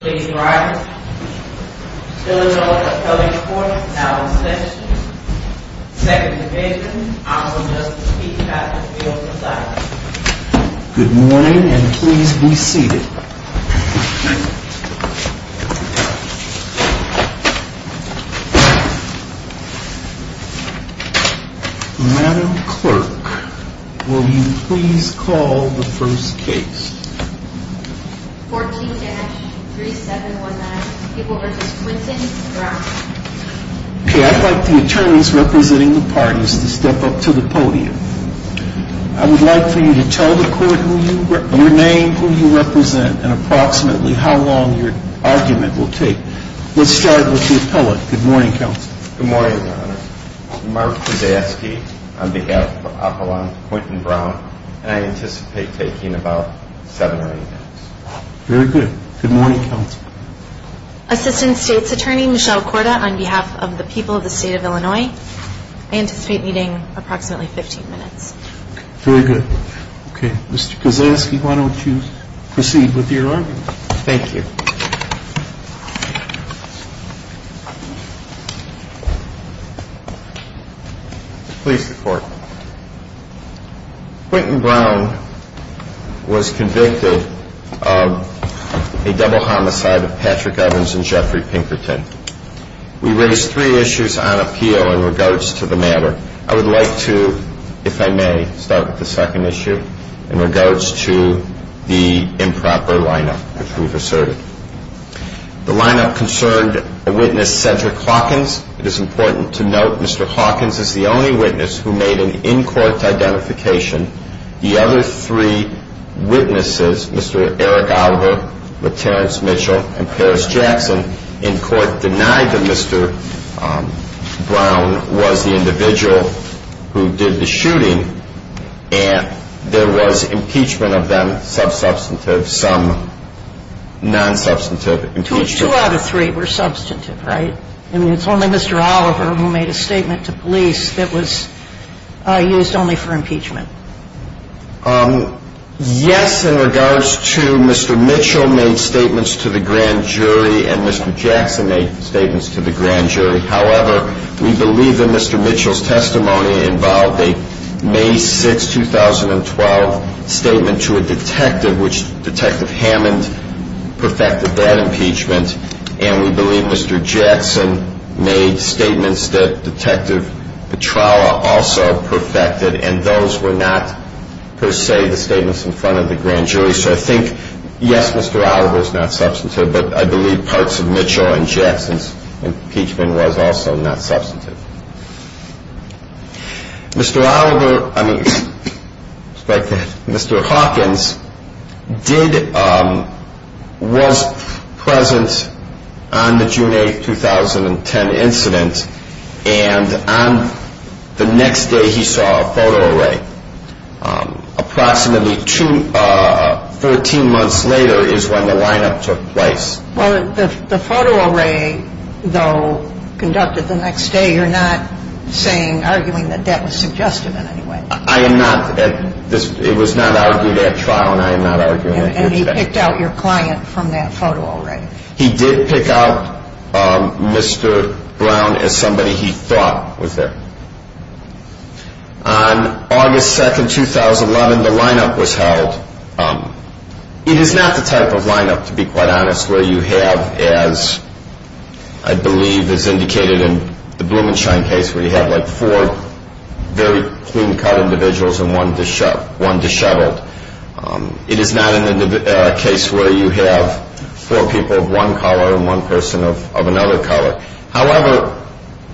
Ladies and gentlemen, good morning and please be seated. I would like the attorneys representing the parties to step up to the podium. I would like for you to tell the court your name, who you represent, and approximately how long your argument will take. Let's start with the appellate. Good morning, Counsel. Good morning, Your Honor. Mark Kudaski on behalf of Apollon Quinton Brown, and I anticipate taking about seven or eight minutes. Very good. Good morning, Counsel. Assistant State's Attorney Michelle Korda on behalf of the people of the State of Illinois. I anticipate meeting approximately 15 minutes. Very good. Okay, Mr. Kudaski, why don't you proceed with your argument. Thank you. Please report. Quinton Brown was convicted of a double homicide of Patrick Evans and Jeffrey Pinkerton. We raise three issues on appeal in regards to the matter. I would like to, if I may, start with the second issue in regards to the improper lineup, as we've asserted. The lineup concerned a witness, Cedric Hawkins. It is important to note Mr. Hawkins is the only witness who made an in-court identification. The other three witnesses, Mr. Eric Oliver with Terrence Mitchell and Paris Jackson, in court denied that Mr. Brown was the individual who did the shooting, and there was impeachment of them, some substantive, some non-substantive impeachment. Two out of three were substantive, right? I mean, it's only Mr. Oliver who made a statement to police that was used only for impeachment. Yes, in regards to Mr. Mitchell made statements to the grand jury and Mr. Jackson made statements to the grand jury. However, we believe that Mr. Mitchell's testimony involved a May 6, 2012, statement to a detective, which Detective Hammond perfected that impeachment, and we believe Mr. Jackson made statements that Detective Petrala also perfected, and those were not, per se, the statements in front of the grand jury. So I think, yes, Mr. Oliver's not substantive, but I believe parts of Mitchell and Jackson's impeachment was also not substantive. Mr. Oliver, I mean, Mr. Hawkins, was present on the June 8, 2010 incident, and on the next day he saw a photo array. Approximately 13 months later is when the lineup took place. Well, the photo array, though, conducted the next day, you're not arguing that that was suggestive in any way? I am not. It was not argued at trial, and I am not arguing that. And he picked out your client from that photo array? He did pick out Mr. Brown as somebody he thought was there. On August 2, 2011, the lineup was held. It is not the type of lineup, to be quite honest, where you have, as I believe is indicated in the Blumenshine case, where you have like four very clean-cut individuals and one disheveled. It is not a case where you have four people of one color and one person of another color. However,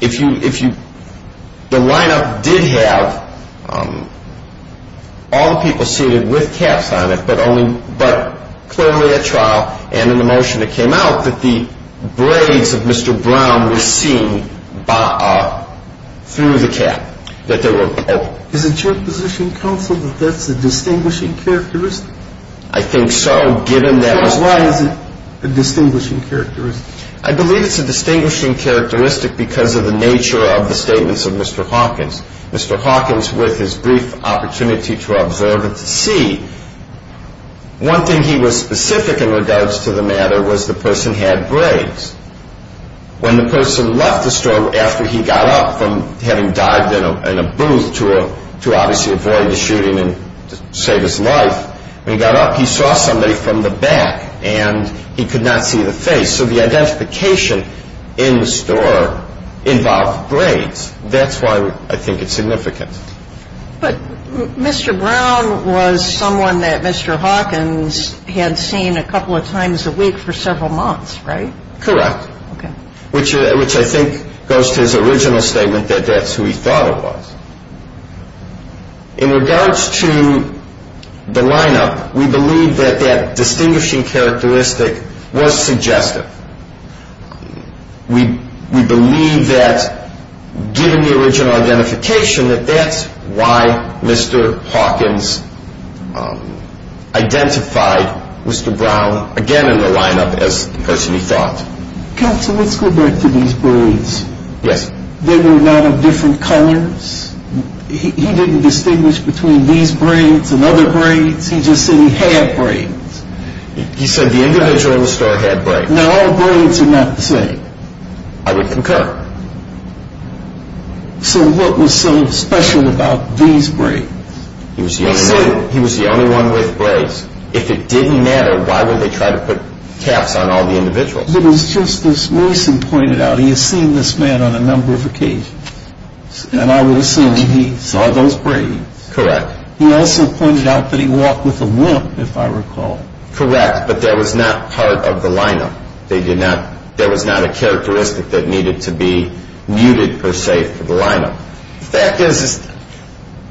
the lineup did have all the people seated with caps on it, but clearly at trial, and in the motion that came out, that the braids of Mr. Brown were seen through the cap, that they were open. Is it your position, counsel, that that's a distinguishing characteristic? I think so, given that it was… Why is it a distinguishing characteristic? I believe it's a distinguishing characteristic because of the nature of the statements of Mr. Hawkins. Mr. Hawkins, with his brief opportunity to observe and to see, one thing he was specific in regards to the matter was the person had braids. When the person left the store after he got up from having dived in a booth to obviously avoid the shooting and save his life, when he got up, he saw somebody from the back, and he could not see the face. So the identification in the store involved braids. That's why I think it's significant. But Mr. Brown was someone that Mr. Hawkins had seen a couple of times a week for several months, right? Correct. Okay. Which I think goes to his original statement that that's who he thought it was. In regards to the lineup, we believe that that distinguishing characteristic was suggestive. We believe that, given the original identification, that that's why Mr. Hawkins identified Mr. Brown again in the lineup as the person he thought. Counsel, let's go back to these braids. Yes. There were a lot of different colors. He didn't distinguish between these braids and other braids. He just said he had braids. He said the individual in the store had braids. Now, all braids are not the same. I would concur. So what was so special about these braids? He was the only one with braids. If it didn't matter, why would they try to put caps on all the individuals? It was just as Mason pointed out. He has seen this man on a number of occasions, and I would assume he saw those braids. Correct. He also pointed out that he walked with a limp, if I recall. Correct, but that was not part of the lineup. There was not a characteristic that needed to be muted, per se, for the lineup. The fact is,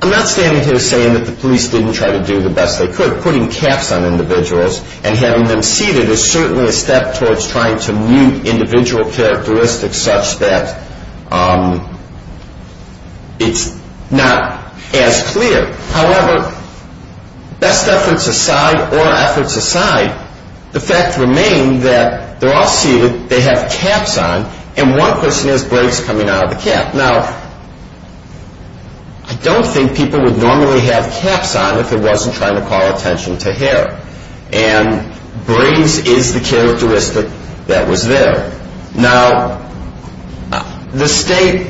I'm not standing here saying that the police didn't try to do the best they could. The fact that they're putting caps on individuals and having them seated is certainly a step towards trying to mute individual characteristics such that it's not as clear. However, best efforts aside or efforts aside, the fact remained that they're all seated, they have caps on, and one person has braids coming out of the cap. Now, I don't think people would normally have caps on if it wasn't trying to call attention to hair, and braids is the characteristic that was there. Now, the state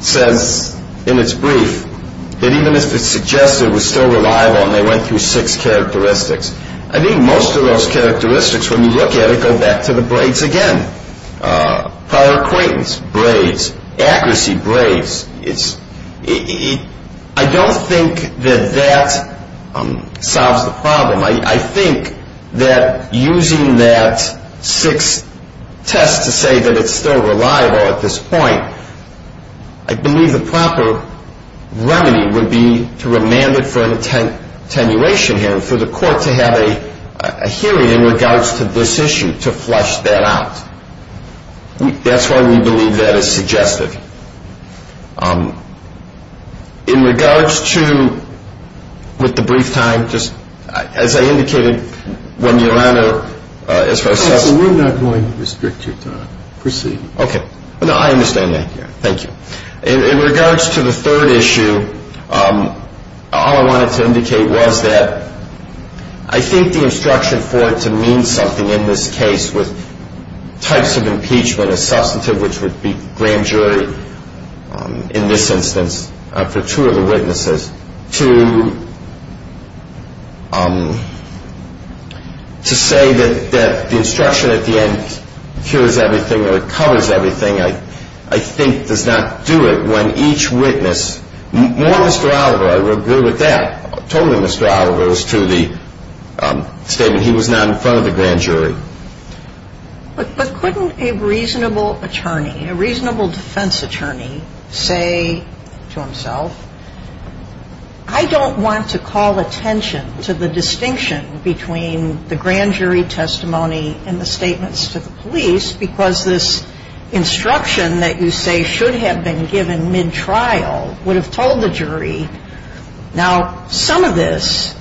says in its brief that even if it's suggested it was still reliable and they went through six characteristics, I think most of those characteristics, when you look at it, go back to the braids again. Prior acquaintance braids, accuracy braids. I don't think that that solves the problem. I think that using that sixth test to say that it's still reliable at this point, I believe the proper remedy would be to remand it for an attenuation hearing, for the court to have a hearing in regards to this issue to flush that out. That's why we believe that is suggested. In regards to, with the brief time, just as I indicated when Your Honor, as far as this goes. We're not going to restrict your time. Proceed. Okay. No, I understand that. Thank you. In regards to the third issue, all I wanted to indicate was that I think the instruction for it to mean something in this case with types of impeachment, a substantive which would be grand jury in this instance for two of the witnesses, to say that the instruction at the end cures everything or covers everything, I think does not do it when each witness, more Mr. Oliver, I would agree with that, told Mr. Oliver as to the statement he was not in front of the grand jury. But couldn't a reasonable attorney, a reasonable defense attorney say to himself, I don't want to call attention to the distinction between the grand jury testimony and the statements to the police because this instruction that you say should have been given mid-trial would have told the jury. Now, some of this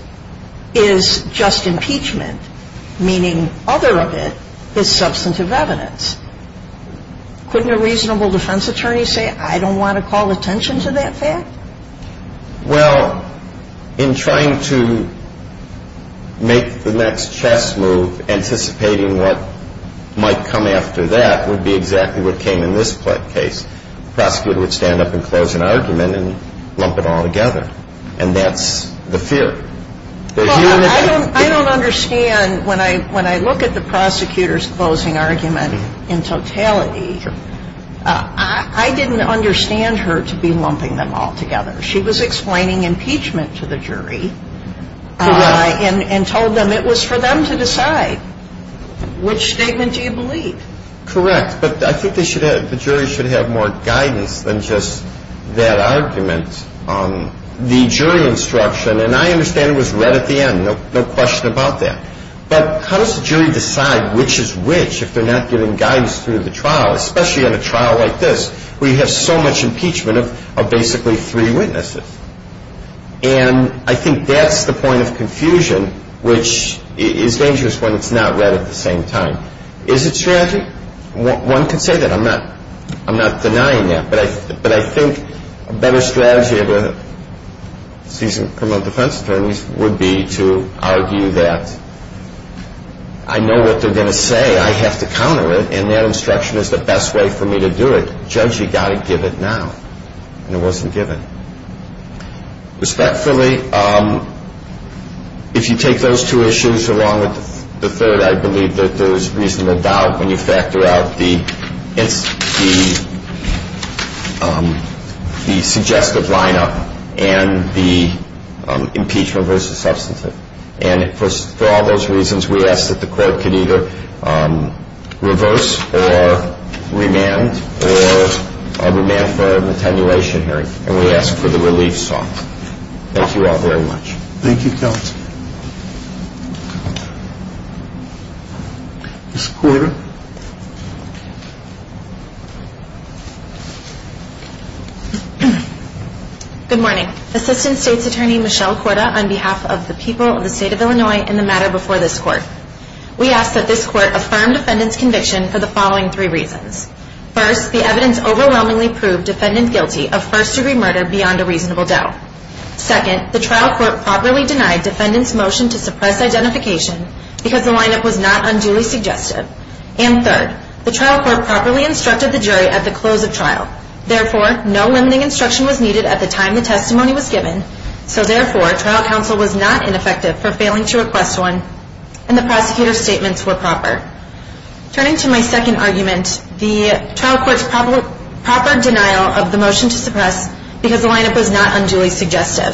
is just impeachment, meaning other of it is substantive evidence. Couldn't a reasonable defense attorney say, I don't want to call attention to that fact? Well, in trying to make the next chess move, anticipating what might come after that would be exactly what came in this case. The prosecutor would stand up and close an argument and lump it all together. And that's the fear. I don't understand when I look at the prosecutor's closing argument in totality, I didn't understand her to be lumping them all together. She was explaining impeachment to the jury and told them it was for them to decide. Which statement do you believe? Correct. But I think the jury should have more guidance than just that argument on the jury instruction. And I understand it was read at the end, no question about that. But how does the jury decide which is which if they're not giving guidance through the trial, especially on a trial like this where you have so much impeachment of basically three witnesses? And I think that's the point of confusion, which is dangerous when it's not read at the same time. Is it strategy? One could say that. I'm not denying that. But I think a better strategy of a seasoned criminal defense attorney would be to argue that I know what they're going to say, I have to counter it, and that instruction is the best way for me to do it. Judge, you've got to give it now. And it wasn't given. Respectfully, if you take those two issues along with the third, I believe that there is reasonable doubt when you factor out the suggestive lineup and the impeachment versus substantive. And for all those reasons, we ask that the court can either reverse or remand or remand for an attenuation hearing. And we ask for the relief song. Thank you all very much. Thank you. This quarter. Good morning. Assistant State's Attorney Michelle Korda on behalf of the people of the state of Illinois in the matter before this court. We ask that this court affirm defendant's conviction for the following three reasons. First, the evidence overwhelmingly proved defendant guilty of first-degree murder beyond a reasonable doubt. Second, the trial court properly denied defendant's motion to suppress identification because the lineup was not unduly suggestive. And third, the trial court properly instructed the jury at the close of trial. Therefore, no limiting instruction was needed at the time the testimony was given. So therefore, trial counsel was not ineffective for failing to request one, and the prosecutor's statements were proper. Turning to my second argument, the trial court's proper denial of the motion to suppress because the lineup was not unduly suggestive.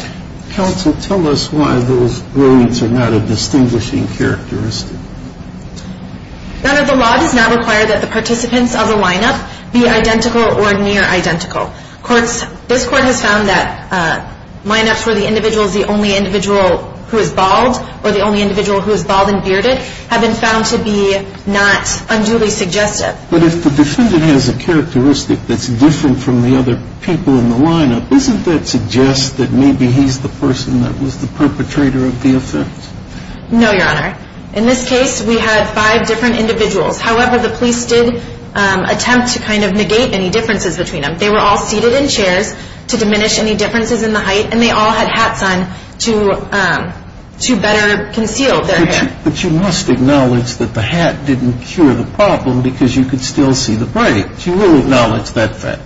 Counsel, tell us why those rulings are not a distinguishing characteristic. None of the law does not require that the participants of the lineup be identical or near identical. This court has found that lineups where the individual is the only individual who is bald or the only individual who is bald and bearded have been found to be not unduly suggestive. But if the defendant has a characteristic that's different from the other people in the lineup, doesn't that suggest that maybe he's the person that was the perpetrator of the offense? No, Your Honor. In this case, we had five different individuals. However, the police did attempt to kind of negate any differences between them. They were all seated in chairs to diminish any differences in the height, and they all had hats on to better conceal their hair. But you must acknowledge that the hat didn't cure the problem because you could still see the braids. You will acknowledge that fact.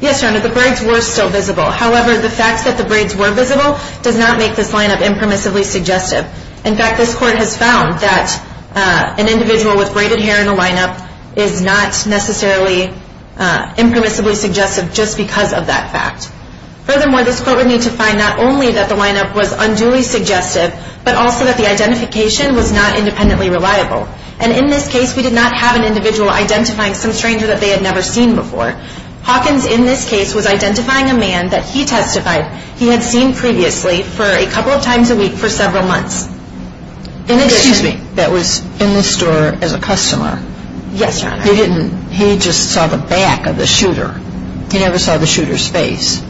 Yes, Your Honor. The braids were still visible. However, the fact that the braids were visible does not make this lineup impermissibly suggestive. In fact, this court has found that an individual with braided hair in a lineup is not necessarily impermissibly suggestive just because of that fact. Furthermore, this court would need to find not only that the lineup was unduly suggestive, but also that the identification was not independently reliable. And in this case, we did not have an individual identifying some stranger that they had never seen before. Hawkins, in this case, was identifying a man that he testified he had seen previously for a couple of times a week for several months. Excuse me. That was in the store as a customer. Yes, Your Honor. He didn't. He just saw the back of the shooter. He never saw the shooter's face. Your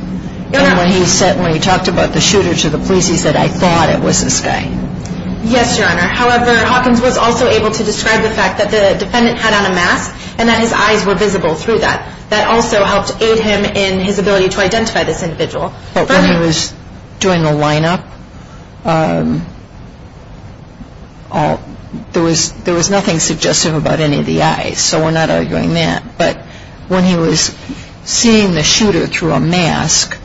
Honor. And when he talked about the shooter to the police, he said, I thought it was this guy. Yes, Your Honor. However, Hawkins was also able to describe the fact that the defendant had on a mask and that his eyes were visible through that. That also helped aid him in his ability to identify this individual. But when he was doing the lineup, there was nothing suggestive about any of the eyes, so we're not arguing that. But when he was seeing the shooter through a mask,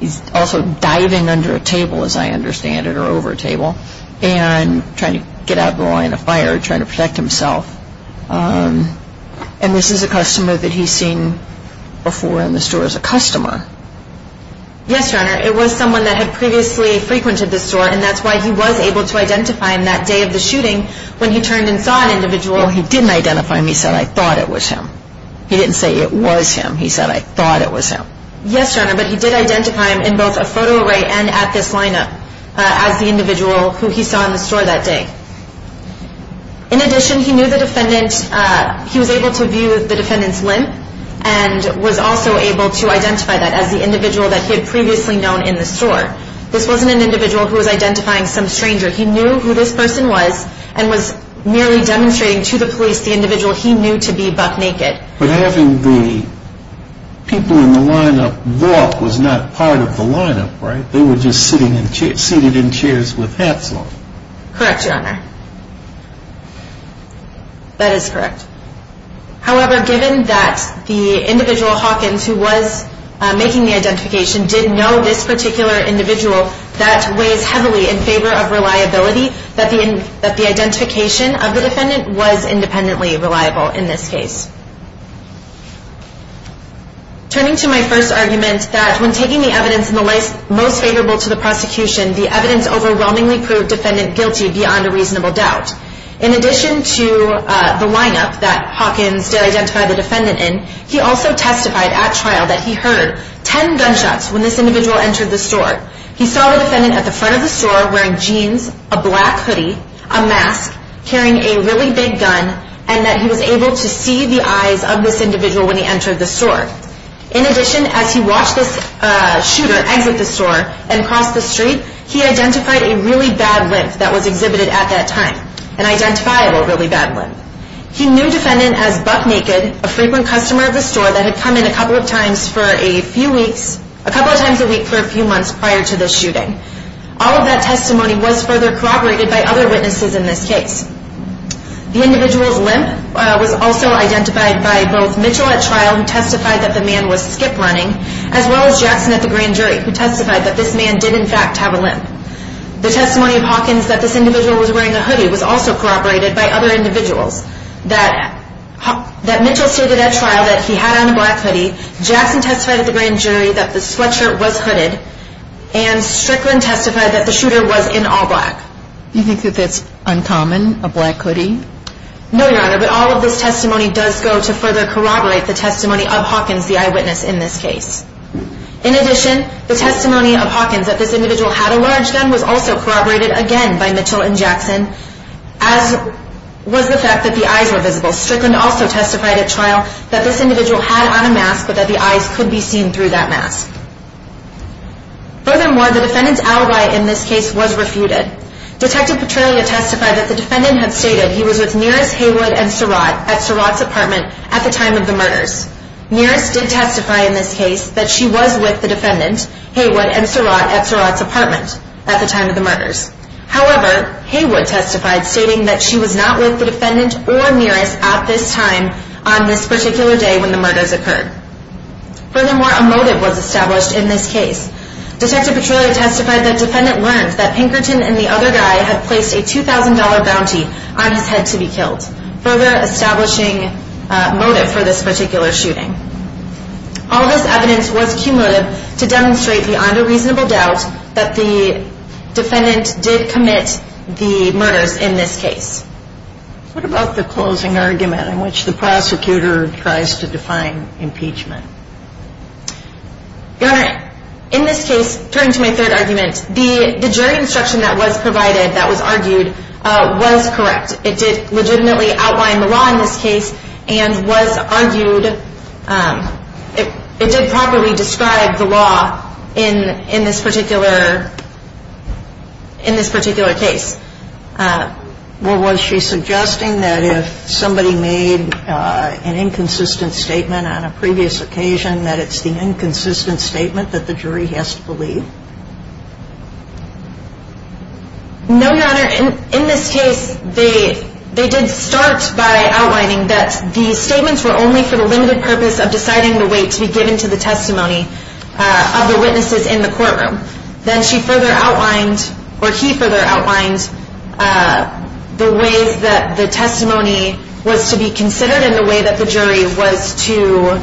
he's also diving under a table, as I understand it, or over a table, and trying to get out of the line of fire, trying to protect himself. And this is a customer that he's seen before in the store as a customer. Yes, Your Honor. It was someone that had previously frequented the store, and that's why he was able to identify him that day of the shooting when he turned and saw an individual. He didn't identify him. He said, I thought it was him. He didn't say it was him. He said, I thought it was him. Yes, Your Honor. But he did identify him in both a photo array and at this lineup as the individual who he saw in the store that day. In addition, he knew the defendant. He was able to view the defendant's limp and was also able to identify that as the individual that he had previously known in the store. This wasn't an individual who was identifying some stranger. He knew who this person was and was merely demonstrating to the police the individual he knew to be buck naked. But having the people in the lineup walk was not part of the lineup, right? They were just sitting in chairs with hats on. Correct, Your Honor. That is correct. However, given that the individual, Hawkins, who was making the identification, did know this particular individual, that weighs heavily in favor of reliability, that the identification of the defendant was independently reliable in this case. Turning to my first argument that when taking the evidence in the most favorable to the prosecution, the evidence overwhelmingly proved defendant guilty beyond a reasonable doubt. In addition to the lineup that Hawkins did identify the defendant in, he also testified at trial that he heard ten gunshots when this individual entered the store. He saw the defendant at the front of the store wearing jeans, a black hoodie, a mask, carrying a really big gun, and that he was able to see the eyes of this individual when he entered the store. In addition, as he watched this shooter exit the store and cross the street, he identified a really bad limp that was exhibited at that time, an identifiable really bad limp. He knew defendant as Buck Naked, a frequent customer of the store that had come in a couple of times for a few weeks, a couple of times a week for a few months prior to this shooting. All of that testimony was further corroborated by other witnesses in this case. The individual's limp was also identified by both Mitchell at trial, who testified that the man was skip running, as well as Jackson at the grand jury, who testified that this man did in fact have a limp. The testimony of Hawkins that this individual was wearing a hoodie was also corroborated by other individuals, that Mitchell stated at trial that he had on a black hoodie, Jackson testified at the grand jury that the sweatshirt was hooded, and Strickland testified that the shooter was in all black. Do you think that that's uncommon, a black hoodie? No, Your Honor, but all of this testimony does go to further corroborate the testimony of Hawkins, the eyewitness in this case. In addition, the testimony of Hawkins that this individual had a large gun was also corroborated again by Mitchell and Jackson, as was the fact that the eyes were visible. Strickland also testified at trial that this individual had on a mask, but that the eyes could be seen through that mask. Furthermore, the defendant's alibi in this case was refuted. Detective Petralia testified that the defendant had stated he was with Nearest, Haywood, and Surratt at Surratt's apartment at the time of the murders. Nearest did testify in this case that she was with the defendant, Haywood, and Surratt at Surratt's apartment at the time of the murders. However, Haywood testified stating that she was not with the defendant or Nearest at this time on this particular day when the murders occurred. Furthermore, a motive was established in this case. Detective Petralia testified that the defendant learned that Pinkerton and the other guy had placed a $2,000 bounty on his head to be killed, further establishing motive for this particular shooting. All of this evidence was cumulative to demonstrate beyond a reasonable doubt that the defendant did commit the murders in this case. What about the closing argument in which the prosecutor tries to define impeachment? Your Honor, in this case, turning to my third argument, the jury instruction that was provided, that was argued, was correct. It did legitimately outline the law in this case and was argued. It did properly describe the law in this particular case. Well, was she suggesting that if somebody made an inconsistent statement on a previous occasion, that it's the inconsistent statement that the jury has to believe? No, Your Honor. In this case, they did start by outlining that the statements were only for the limited purpose of deciding the way to be given to the testimony of the witnesses in the courtroom. Then she further outlined, or he further outlined, the ways that the testimony was to be considered and the way that the jury was to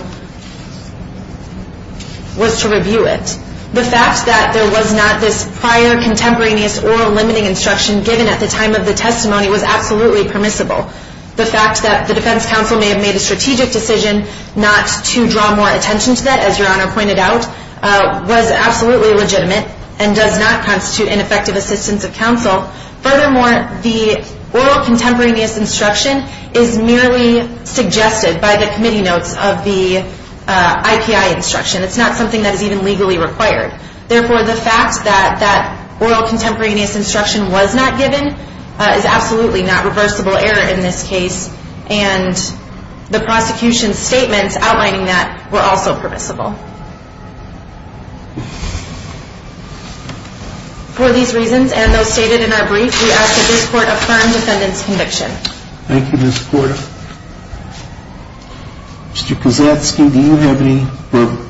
review it. The fact that there was not this prior contemporaneous oral limiting instruction given at the time of the testimony was absolutely permissible. The fact that the defense counsel may have made a strategic decision not to draw more attention to that, as Your Honor pointed out, was absolutely legitimate and does not constitute ineffective assistance of counsel. Furthermore, the oral contemporaneous instruction is merely suggested by the committee notes of the IPI instruction. It's not something that is even legally required. Therefore, the fact that that oral contemporaneous instruction was not given is absolutely not reversible error in this case. And the prosecution's statements outlining that were also permissible. For these reasons and those stated in our brief, we ask that this Court affirm defendant's conviction. Thank you, Ms. Porter. Mr. Kozatski, do you have any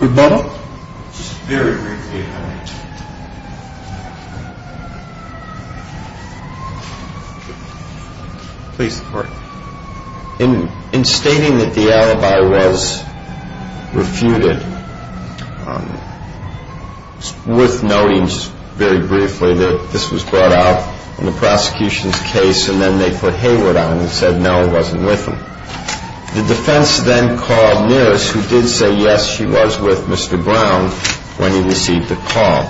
rebuttal? Just very briefly, Your Honor. Please, the Court. In stating that the alibi was refuted, it's worth noting just very briefly that this was brought out in the prosecution's case and then they put Hayward on and said, no, it wasn't with him. The defense then called Nearest, who did say, yes, she was with Mr. Brown when he received the call.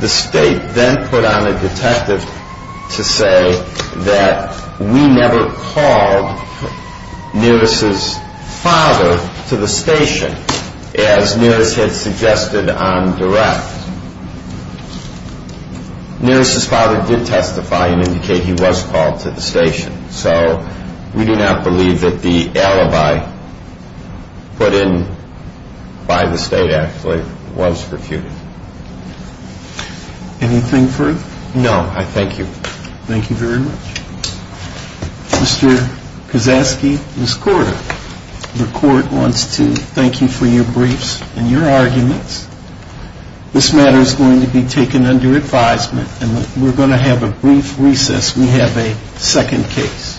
The state then put on a detective to say that we never called Nearest's father to the station, as Nearest had suggested on direct. Nearest's father did testify and indicate he was called to the station. So we do not believe that the alibi put in by the state actually was refuted. Anything further? No, I thank you. Thank you very much. Mr. Kozatski, Ms. Porter, the Court wants to thank you for your briefs and your arguments. This matter is going to be taken under advisement and we're going to have a brief recess. We have a second case.